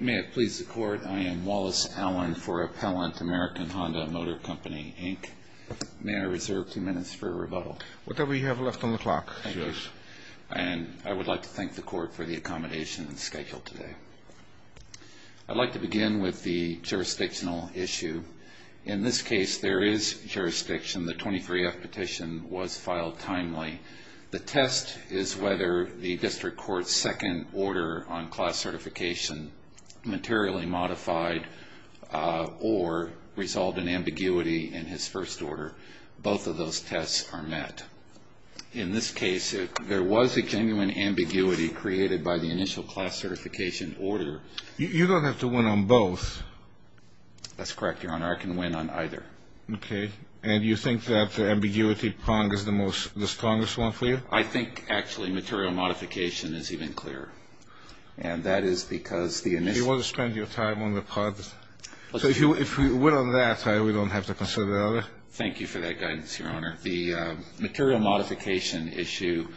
May it please the Court, I am Wallace Allen for Appellant American Honda Motor Company, Inc. May I reserve two minutes for a rebuttal? Whatever you have left on the clock. Thank you. And I would like to thank the Court for the accommodation scheduled today. I'd like to begin with the jurisdictional issue. In this case, there is jurisdiction. The 23F petition was filed timely. The test is whether the District Court's second order on class certification materially modified or resolved in ambiguity in his first order. Both of those tests are met. In this case, there was a genuine ambiguity created by the initial class certification order. You don't have to win on both. That's correct, Your Honor. I can win on either. Okay. And you think that the ambiguity prong is the strongest one for you? I think, actually, material modification is even clearer. And that is because the initial You want to spend your time on the part that So if you win on that, we don't have to consider the other. Thank you for that guidance, Your Honor. The material modification issue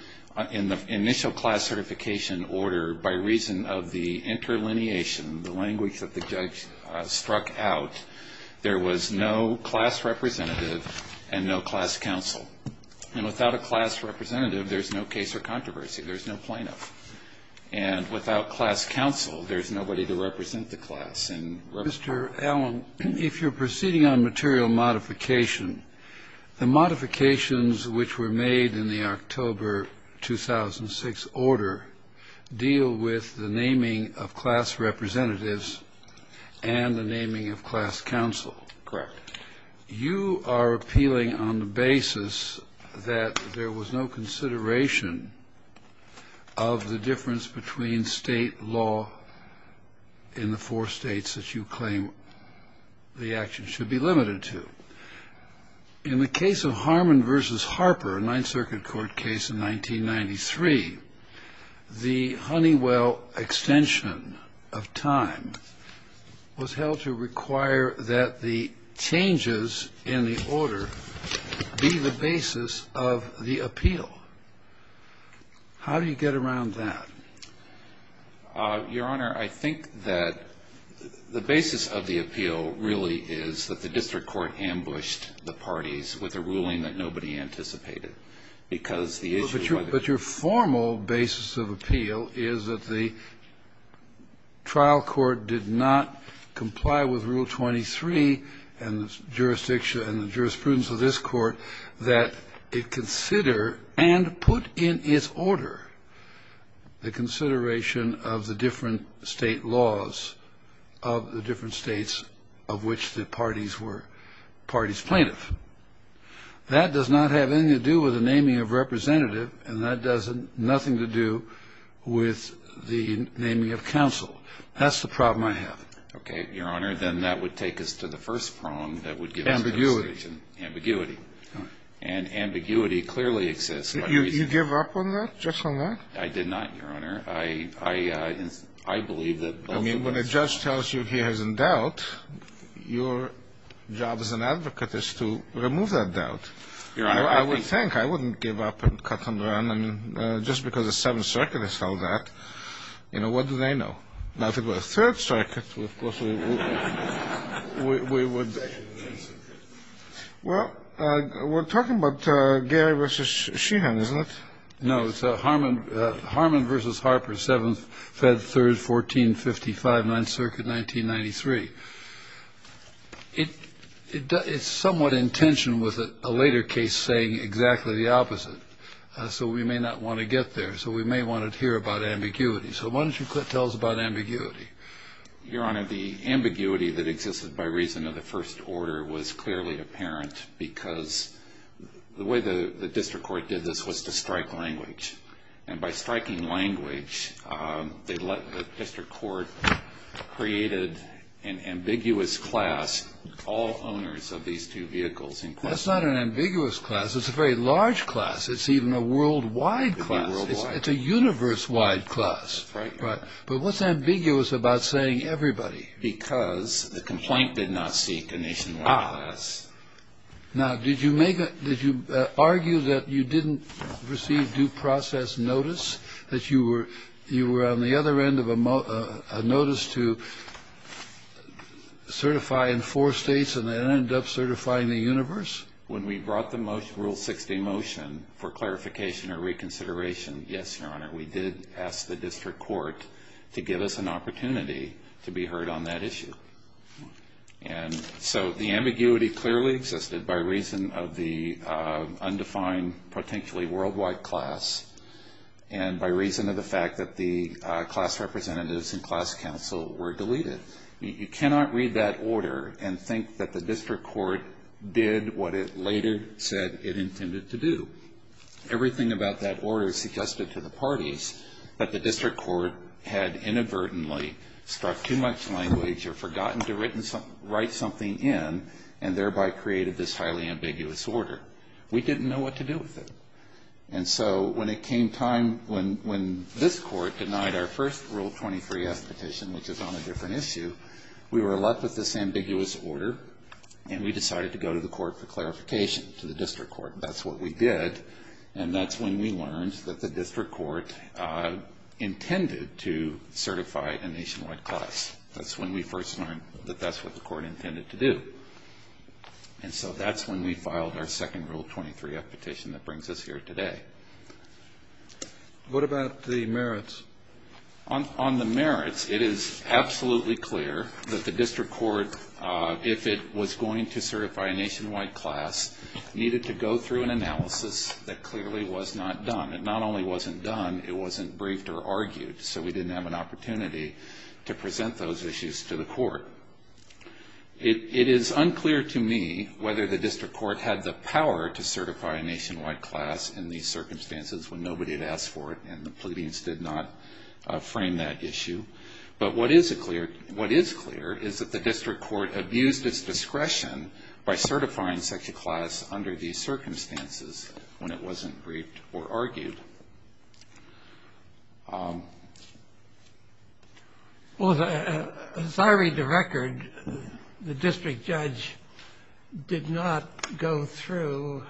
in the initial class certification order, by reason of the interlineation, the language that the judge struck out, there was no class representative and no class counsel. And without a class representative, there's no case or controversy. There's no plaintiff. And without class counsel, there's nobody to represent the class. Mr. Allen, if you're proceeding on material modification, the modifications which were made in the October 2006 order deal with the naming of class representatives and the naming of class counsel. Correct. You are appealing on the basis that there was no consideration of the difference between state law in the four states that you claim the action should be limited to. In the case of Harmon v. Harper, a Ninth Circuit court case in 1993, the Honeywell extension of time was held to require that the changes in the order be the basis of the appeal. How do you get around that? Your Honor, I think that the basis of the appeal really is that the district court ambushed the parties with a ruling that nobody anticipated because the issue was not the case. But your formal basis of appeal is that the trial court did not comply with Rule 23 and the jurisprudence of this court that it consider and put in its order the consideration of the different state laws of the different states of which the parties were parties plaintiff. That does not have anything to do with the naming of representative and that does nothing to do with the naming of counsel. That's the problem I have. Okay. Your Honor, then that would take us to the first prong that would give us the Ambiguity. Ambiguity. And ambiguity clearly exists. You give up on that, just on that? I did not, Your Honor. I believe that both of those in doubt, your job as an advocate is to remove that doubt. Your Honor, I would think I wouldn't give up and cut and run. I mean, just because the Seventh Circuit has held that, you know, what do they know? Now, if it were the Third Circuit, of course, we would. Well, we're talking about Gary v. Sheehan, isn't it? No, it's Harmon v. Harper, 7th, 5th, 3rd, 14, 55, 9th Circuit, 1993. It's somewhat in tension with a later case saying exactly the opposite. So we may not want to get there. So we may want to hear about ambiguity. So why don't you tell us about ambiguity? Your Honor, the ambiguity that existed by reason of the first order was clearly apparent because the way the district court did this was to strike language. And by striking language, they let the district court create an ambiguous class, all owners of these two vehicles in question. That's not an ambiguous class. It's a very large class. It's even a worldwide class. It's a universe-wide class. Right. But what's ambiguous about saying everybody? Because the complaint did not seek a nationwide class. Now, did you make a – did you argue that you didn't receive due process notice, that you were on the other end of a notice to certify in four States and then end up certifying the universe? When we brought the Rule 60 motion for clarification or reconsideration, yes, Your Honor, we did ask the district court to give us an opportunity to be heard on that issue. And so the ambiguity clearly existed by reason of the undefined potentially worldwide class and by reason of the fact that the class representatives and class counsel were deleted. You cannot read that order and think that the district court did what it later said it intended to do. Everything about that order is suggested to the parties, but the district court had inadvertently struck too much language or forgotten to write something in and thereby created this highly ambiguous order. We didn't know what to do with it. And so when it came time – when this court denied our first Rule 23S petition, which is on a different issue, we were left with this ambiguous order, and we decided to go to the court for clarification, to the district court. That's what we did, and that's when we learned that the district court intended to certify a nationwide class. That's when we first learned that that's what the court intended to do. And so that's when we filed our second Rule 23F petition that brings us here today. What about the merits? On the merits, it is absolutely clear that the district court, if it was going to certify a nationwide class, needed to go through an analysis that clearly was not done. It not only wasn't done, it wasn't briefed or argued, so we didn't have an opportunity to present those issues to the court. It is unclear to me whether the district court had the power to certify a nationwide class in these circumstances when nobody had asked for it and the pleadings did not frame that issue. But what is clear is that the district court abused its discretion by certifying such a class under these circumstances when it wasn't briefed or argued. Well, as I read the record, the district judge did not go through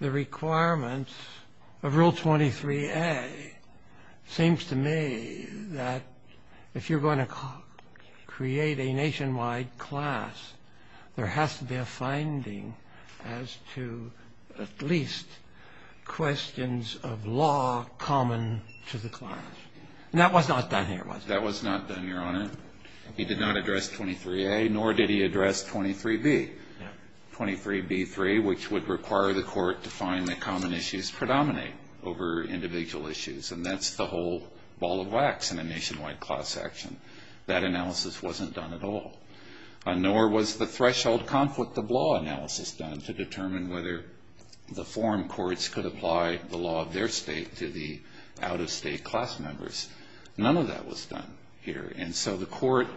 the requirements of Rule 23A. It seems to me that if you're going to create a nationwide class, there has to be a finding as to at least questions of law common to the class. And that was not done here, was it? That was not done, Your Honor. He did not address 23A, nor did he address 23B. 23B-3, which would require the court to find that common issues predominate over individual issues, and that's the whole ball of wax in a nationwide class action. That analysis wasn't done at all. Nor was the threshold conflict of law analysis done to determine whether the forum courts could apply the law of their state to the out-of-state class members. None of that was done here. And so the court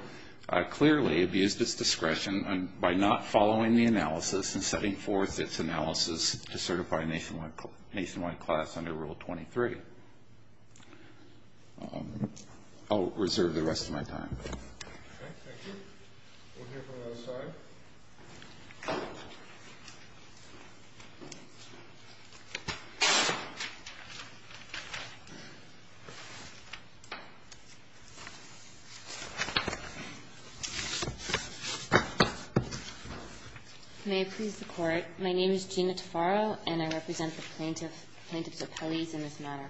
clearly abused its discretion by not following the analysis and setting forth its analysis to certify a nationwide class under Rule 23. I'll reserve the rest of my time. Okay. Thank you. We'll hear from the other side. May it please the Court. My name is Gina Taffaro, and I represent the plaintiffs' appellees in this matter.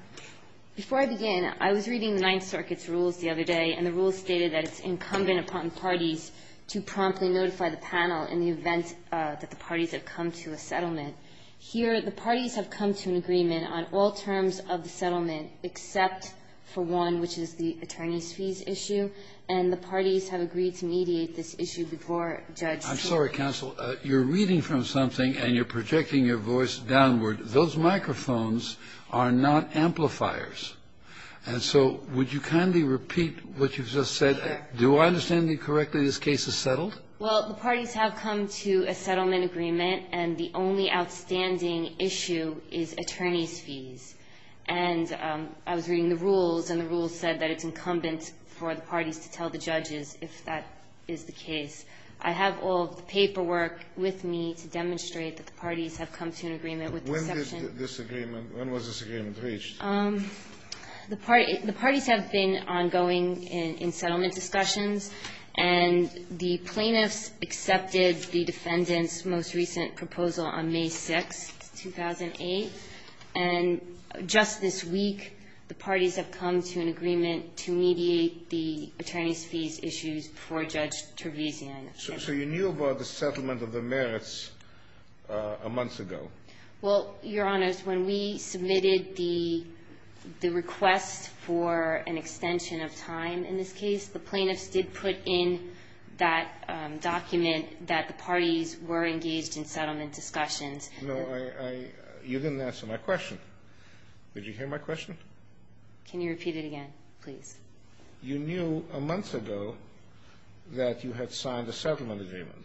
Before I begin, I was reading the Ninth Circuit's rules the other day, and the rules stated that it's incumbent upon parties to promptly notify the panel in the event that the parties have come to a settlement. Here, the parties have come to an agreement on all terms of the settlement except for one, which is the attorney's fees issue, and the parties have agreed to mediate this issue before Judge Kagan. I'm sorry, counsel. You're reading from something and you're projecting your voice downward. Those microphones are not amplifiers. And so would you kindly repeat what you've just said? Do I understand you correctly? This case is settled? Well, the parties have come to a settlement agreement, and the only outstanding issue is attorney's fees. And I was reading the rules, and the rules said that it's incumbent for the parties to tell the judges if that is the case. I have all of the paperwork with me to demonstrate that the parties have come to an agreement. When was this agreement reached? The parties have been ongoing in settlement discussions, and the plaintiffs accepted the defendant's most recent proposal on May 6th, 2008. And just this week, the parties have come to an agreement to mediate the attorney's fees issues before Judge Tervizian. So you knew about the settlement of the merits a month ago? Well, Your Honors, when we submitted the request for an extension of time in this case, the plaintiffs did put in that document that the parties were engaged in settlement discussions. No, I – you didn't answer my question. Did you hear my question? Can you repeat it again, please? You knew a month ago that you had signed a settlement agreement.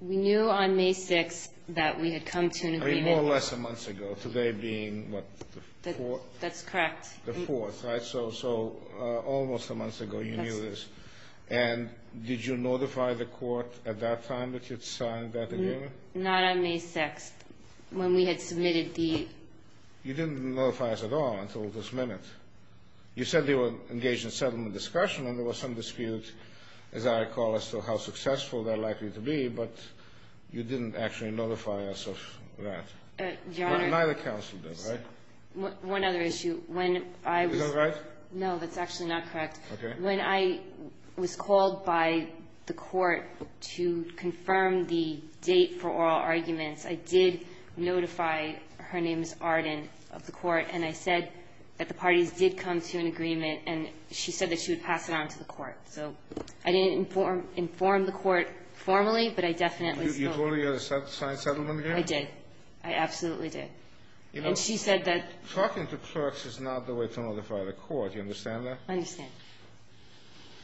We knew on May 6th that we had come to an agreement. I mean, more or less a month ago, today being, what, the 4th? That's correct. The 4th, right? So almost a month ago you knew this. Yes. And did you notify the court at that time that you'd signed that agreement? Not on May 6th, when we had submitted the – You didn't notify us at all until this minute. You said they were engaged in settlement discussion, and there was some dispute, as I recall, as to how successful they're likely to be, but you didn't actually notify us of that. Your Honor – Neither counsel did, right? One other issue. When I was – Is that right? No, that's actually not correct. Okay. When I was called by the court to confirm the date for oral arguments, I did notify – her name is Arden – of the court, and I said that the parties did come to an agreement, and she said that she would pass it on to the court. So I didn't inform the court formally, but I definitely – You told her you had a signed settlement agreement? I did. I absolutely did. You know – And she said that – Talking to clerks is not the way to notify the court. Do you understand that? I understand.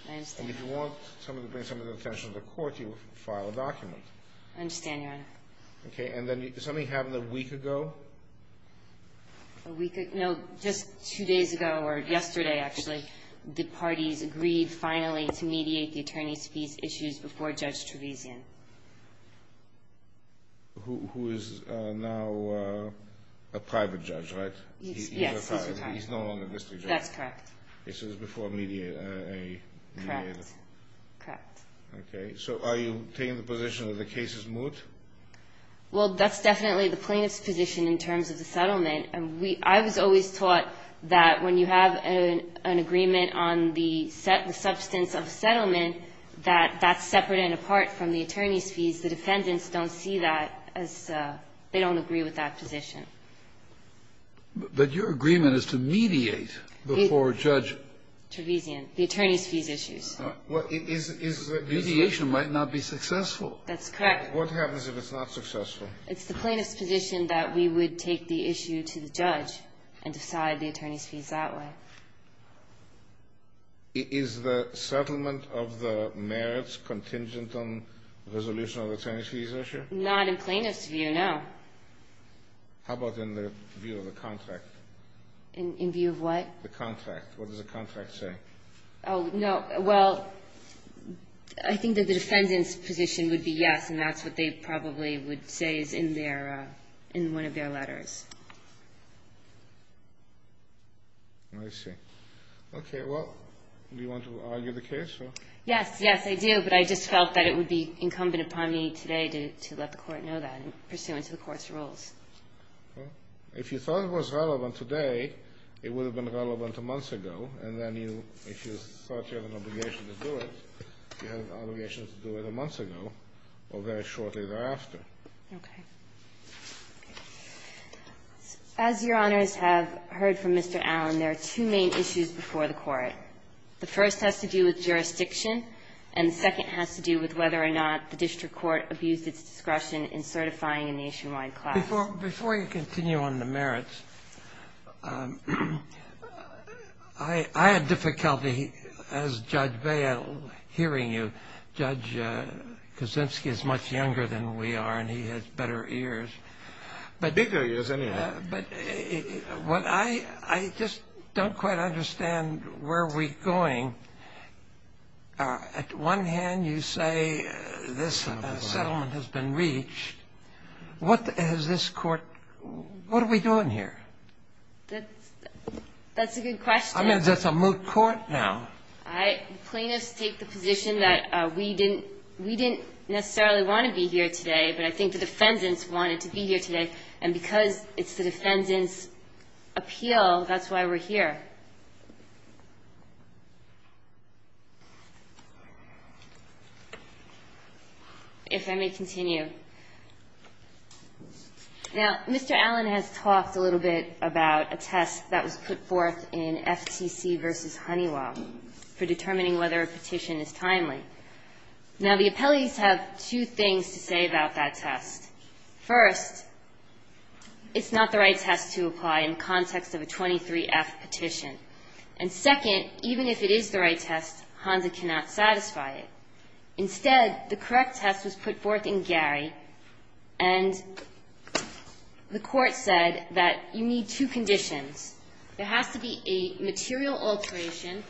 I understand. And if you want somebody to bring somebody's attention to the court, you file a document. I understand, Your Honor. Okay. And then is something happening a week ago? A week ago? No, just two days ago, or yesterday, actually. The parties agreed finally to mediate the attorney's fees issues before Judge Trevisan. Who is now a private judge, right? Yes, he's a private judge. He's no longer a district judge. That's correct. This was before a – Correct. Correct. Okay. So are you taking the position that the case is moot? Well, that's definitely the plaintiff's position in terms of the settlement. I was always taught that when you have an agreement on the substance of a settlement, that that's separate and apart from the attorney's fees. The defendants don't see that as – they don't agree with that position. But your agreement is to mediate before Judge – Trevisan, the attorney's fees issues. Well, mediation might not be successful. That's correct. What happens if it's not successful? It's the plaintiff's position that we would take the issue to the judge and decide the attorney's fees that way. Is the settlement of the merits contingent on the resolution of the attorney's fees issue? Not in plaintiff's view, no. How about in the view of the contract? In view of what? The contract. What does the contract say? Oh, no. Well, I think that the defendant's position would be yes, and that's what they probably would say is in their – in one of their letters. I see. Okay. Well, do you want to argue the case? Yes. Yes, I do. But I just felt that it would be incumbent upon me today to let the Court know that in pursuance of the Court's rules. Well, if you thought it was relevant today, it would have been relevant a month ago, and then you – if you thought you had an obligation to do it, you had an obligation to do it a month ago or very shortly thereafter. Okay. As Your Honors have heard from Mr. Allen, there are two main issues before the Court. The first has to do with jurisdiction, and the second has to do with whether or not the district court abused its discretion in certifying a nationwide class. Before you continue on the merits, I had difficulty, as Judge Vail, hearing you. Judge Kuczynski is much younger than we are, and he has better ears. Bigger ears, anyhow. But what I – I just don't quite understand where we're going. At one hand, you say this settlement has been reached. What has this Court – what are we doing here? That's a good question. I mean, is this a moot court now? Plaintiffs take the position that we didn't necessarily want to be here today, but I think the defendants wanted to be here today. And because it's the defendant's appeal, that's why we're here. If I may continue. Now, Mr. Allen has talked a little bit about a test that was put forth in FTC v. Honeywell for determining whether a petition is timely. Now, the appellees have two things to say about that test. First, it's not the right test to apply in context of a 23-F petition. And second, even if it is the right test, Honda cannot satisfy it. Instead, the correct test was put forth in Gary, and the Court said that you need two conditions. There has to be a material alteration,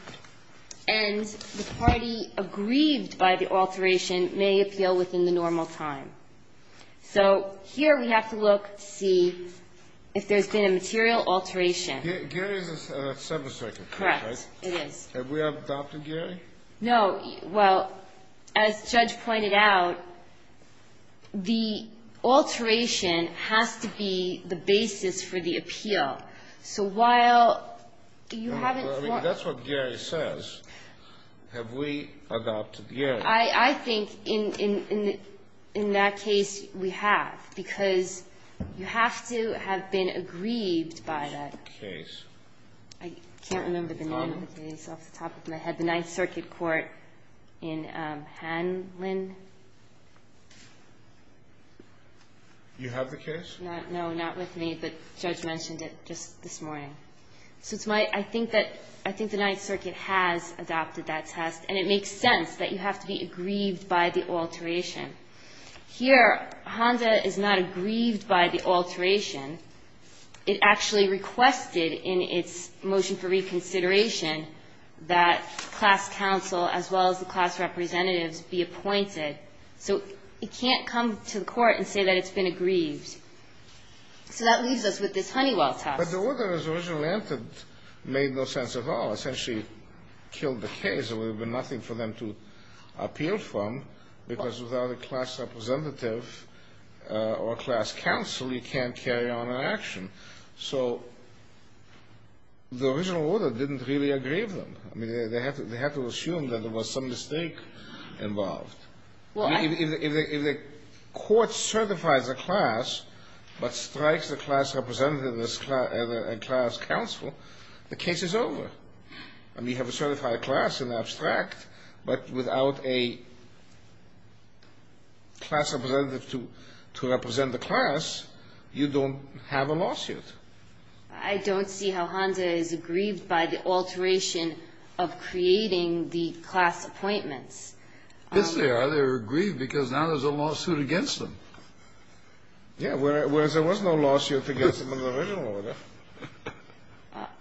and the party aggrieved by the alteration may appeal within the normal time. So here we have to look to see if there's been a material alteration. Gary is a separate circuit court, right? Correct. It is. Have we adopted Gary? No. Well, as Judge pointed out, the alteration has to be the basis for the appeal. So while you haven't form... Well, I mean, that's what Gary says. Have we adopted Gary? I think in that case we have, because you have to have been aggrieved by that. Case. I can't remember the name of the case off the top of my head. The Ninth Circuit Court in Hanlon. You have the case? No, not with me, but Judge mentioned it just this morning. So it's my – I think that – I think the Ninth Circuit has adopted that test, and it makes sense that you have to be aggrieved by the alteration. Here, HONDA is not aggrieved by the alteration. It actually requested in its motion for reconsideration that class counsel, as well as the class representatives, be appointed. So it can't come to the court and say that it's been aggrieved. So that leaves us with this Honeywell test. But the order that was originally entered made no sense at all. It essentially killed the case. There would have been nothing for them to appeal from, because without a class representative or a class counsel, you can't carry on an action. So the original order didn't really aggrieve them. I mean, they had to assume that there was some mistake involved. Well, I – If the court certifies a class but strikes a class representative and a class counsel, the case is over. I mean, you have a certified class in the abstract, but without a class representative to represent the class, you don't have a lawsuit. I don't see how HONDA is aggrieved by the alteration of creating the class appointments. Yes, they are. They were aggrieved because now there's a lawsuit against them. Yeah, whereas there was no lawsuit against them in the original order.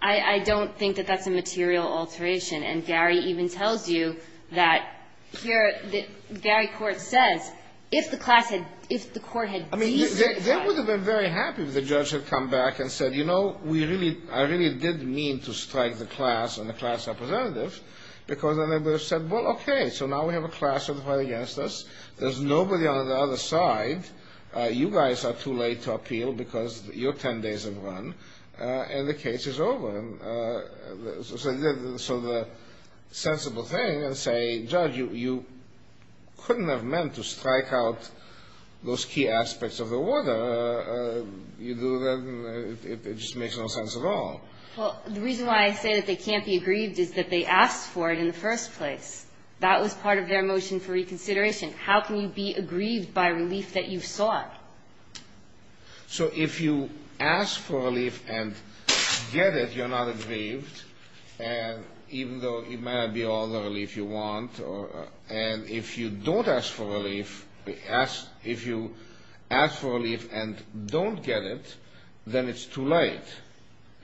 I don't think that that's a material alteration. And Gary even tells you that here – Gary Court says if the class had – if the court had de-certified – I mean, they would have been very happy if the judge had come back and said, you know, we really – I really did mean to strike the class and the class representative, because then they would have said, well, okay, so now we have a class certified against us. There's nobody on the other side. You guys are too late to appeal because you're 10 days in the run. And the case is over. So the sensible thing is to say, judge, you couldn't have meant to strike out those key aspects of the order. You do that, and it just makes no sense at all. Well, the reason why I say that they can't be aggrieved is that they asked for it in the first place. That was part of their motion for reconsideration. How can you be aggrieved by relief that you've sought? So if you ask for relief and get it, you're not aggrieved, even though it may not be all the relief you want. And if you don't ask for relief – if you ask for relief and don't get it, then it's too late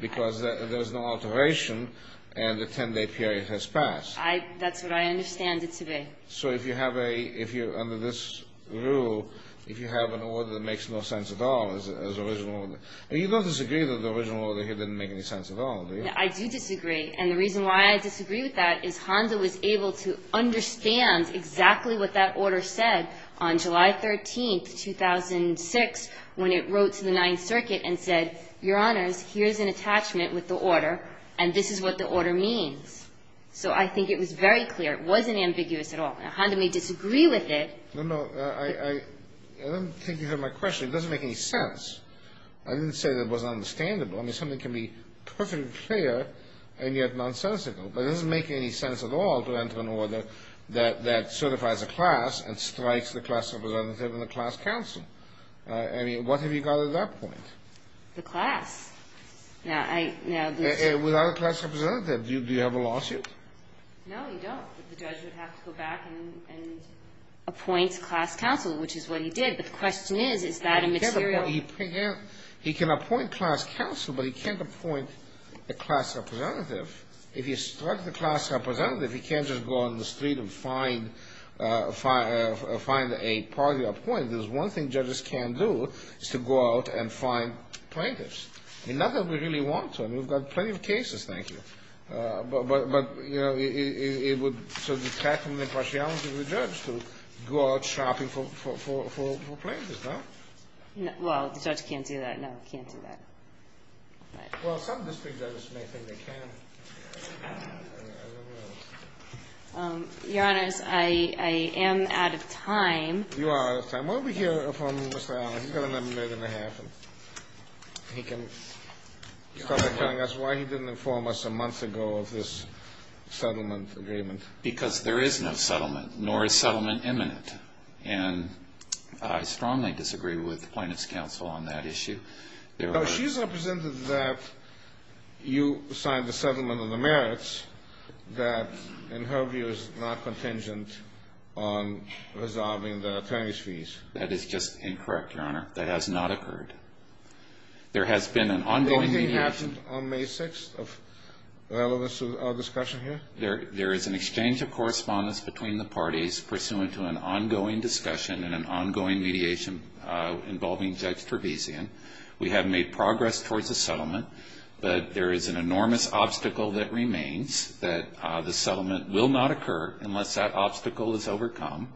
because there's no alteration and the 10-day period has passed. That's what I understand it to be. So if you have a – if you're under this rule, if you have an order that makes no sense at all as an original order – and you don't disagree that the original order here didn't make any sense at all, do you? I do disagree. And the reason why I disagree with that is Honda was able to understand exactly what that order said on July 13, 2006, when it wrote to the Ninth Circuit and said, Your Honors, here's an attachment with the order, and this is what the order means. So I think it was very clear. It wasn't ambiguous at all. Now, Honda may disagree with it. No, no. I don't think you heard my question. It doesn't make any sense. I didn't say that it wasn't understandable. I mean, something can be perfectly clear and yet nonsensical, but it doesn't make any sense at all to enter an order that certifies a class and strikes the class representative and the class counsel. I mean, what have you got at that point? The class. Without a class representative, do you have a lawsuit? No, you don't. The judge would have to go back and appoint a class counsel, which is what he did. But the question is, is that immaterial? He can appoint class counsel, but he can't appoint a class representative. If he strikes the class representative, he can't just go on the street and find a party to appoint. One thing judges can do is to go out and find plaintiffs. Not that we really want to. I mean, we've got plenty of cases, thank you. But, you know, it would sort of detract from the impartiality of the judge to go out shopping for plaintiffs, no? Well, the judge can't do that. No, he can't do that. Well, some district judges may think they can. Your Honors, I am out of time. You are out of time. Why don't we hear from Mr. Allen? He's got another minute and a half, and he can start by telling us why he didn't inform us a month ago of this settlement agreement. Because there is no settlement, nor is settlement imminent. And I strongly disagree with the plaintiffs' counsel on that issue. No, she's represented that you signed the settlement on the merits that, in her view, is not contingent on resolving the attorneys' fees. That is just incorrect, Your Honor. That has not occurred. There has been an ongoing mediation. Anything happened on May 6th of relevance to our discussion here? There is an exchange of correspondence between the parties pursuant to an ongoing discussion and an ongoing mediation involving Judge Trebesian. We have made progress towards a settlement, but there is an enormous obstacle that remains, that the settlement will not occur unless that obstacle is overcome.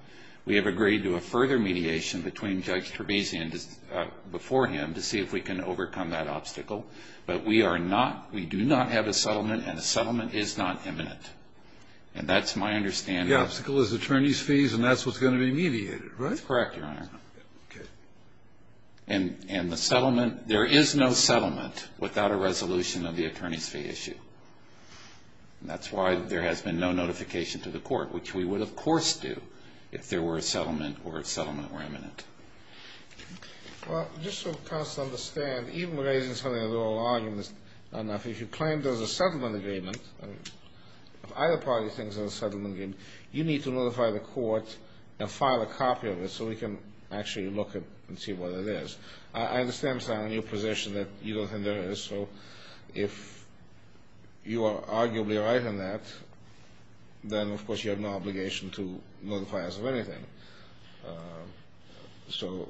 We have agreed to a further mediation between Judge Trebesian before him to see if we can overcome that obstacle. But we are not, we do not have a settlement, and a settlement is not imminent. And that's my understanding. The only obstacle is attorneys' fees, and that's what's going to be mediated, right? That's correct, Your Honor. Okay. And the settlement, there is no settlement without a resolution of the attorneys' fee issue. That's why there has been no notification to the Court, which we would, of course, do if there were a settlement or if settlement were imminent. Well, just so counsel understand, even raising something as an oral argument is not enough. If you claim there's a settlement agreement, if either party thinks there's a settlement agreement, you need to notify the Court and file a copy of it so we can actually look at it and see what it is. I understand, sir, in your position that you don't think there is. So if you are arguably right on that, then, of course, you have no obligation to notify us of anything. So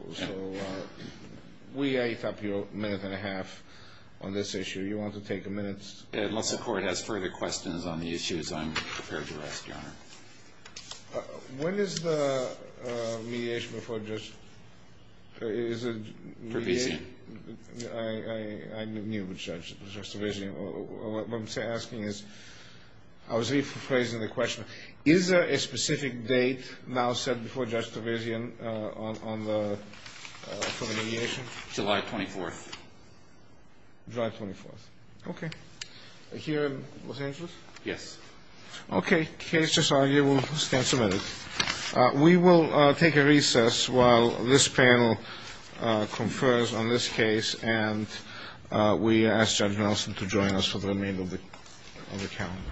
we ate up your minute and a half on this issue. Do you want to take a minute? Unless the Court has further questions on the issues, I'm prepared to rest, Your Honor. When is the mediation before Judge – is it – Trevisian. I knew Judge Trevisian. What I'm asking is – I was rephrasing the question. Is there a specific date now set before Judge Trevisian on the – for the mediation? July 24th. July 24th. Okay. Here in Los Angeles? Yes. Okay. Case just argued. We'll stand submitted. We will take a recess while this panel confers on this case, and we ask Judge Nelson to join us for the remainder of the calendar.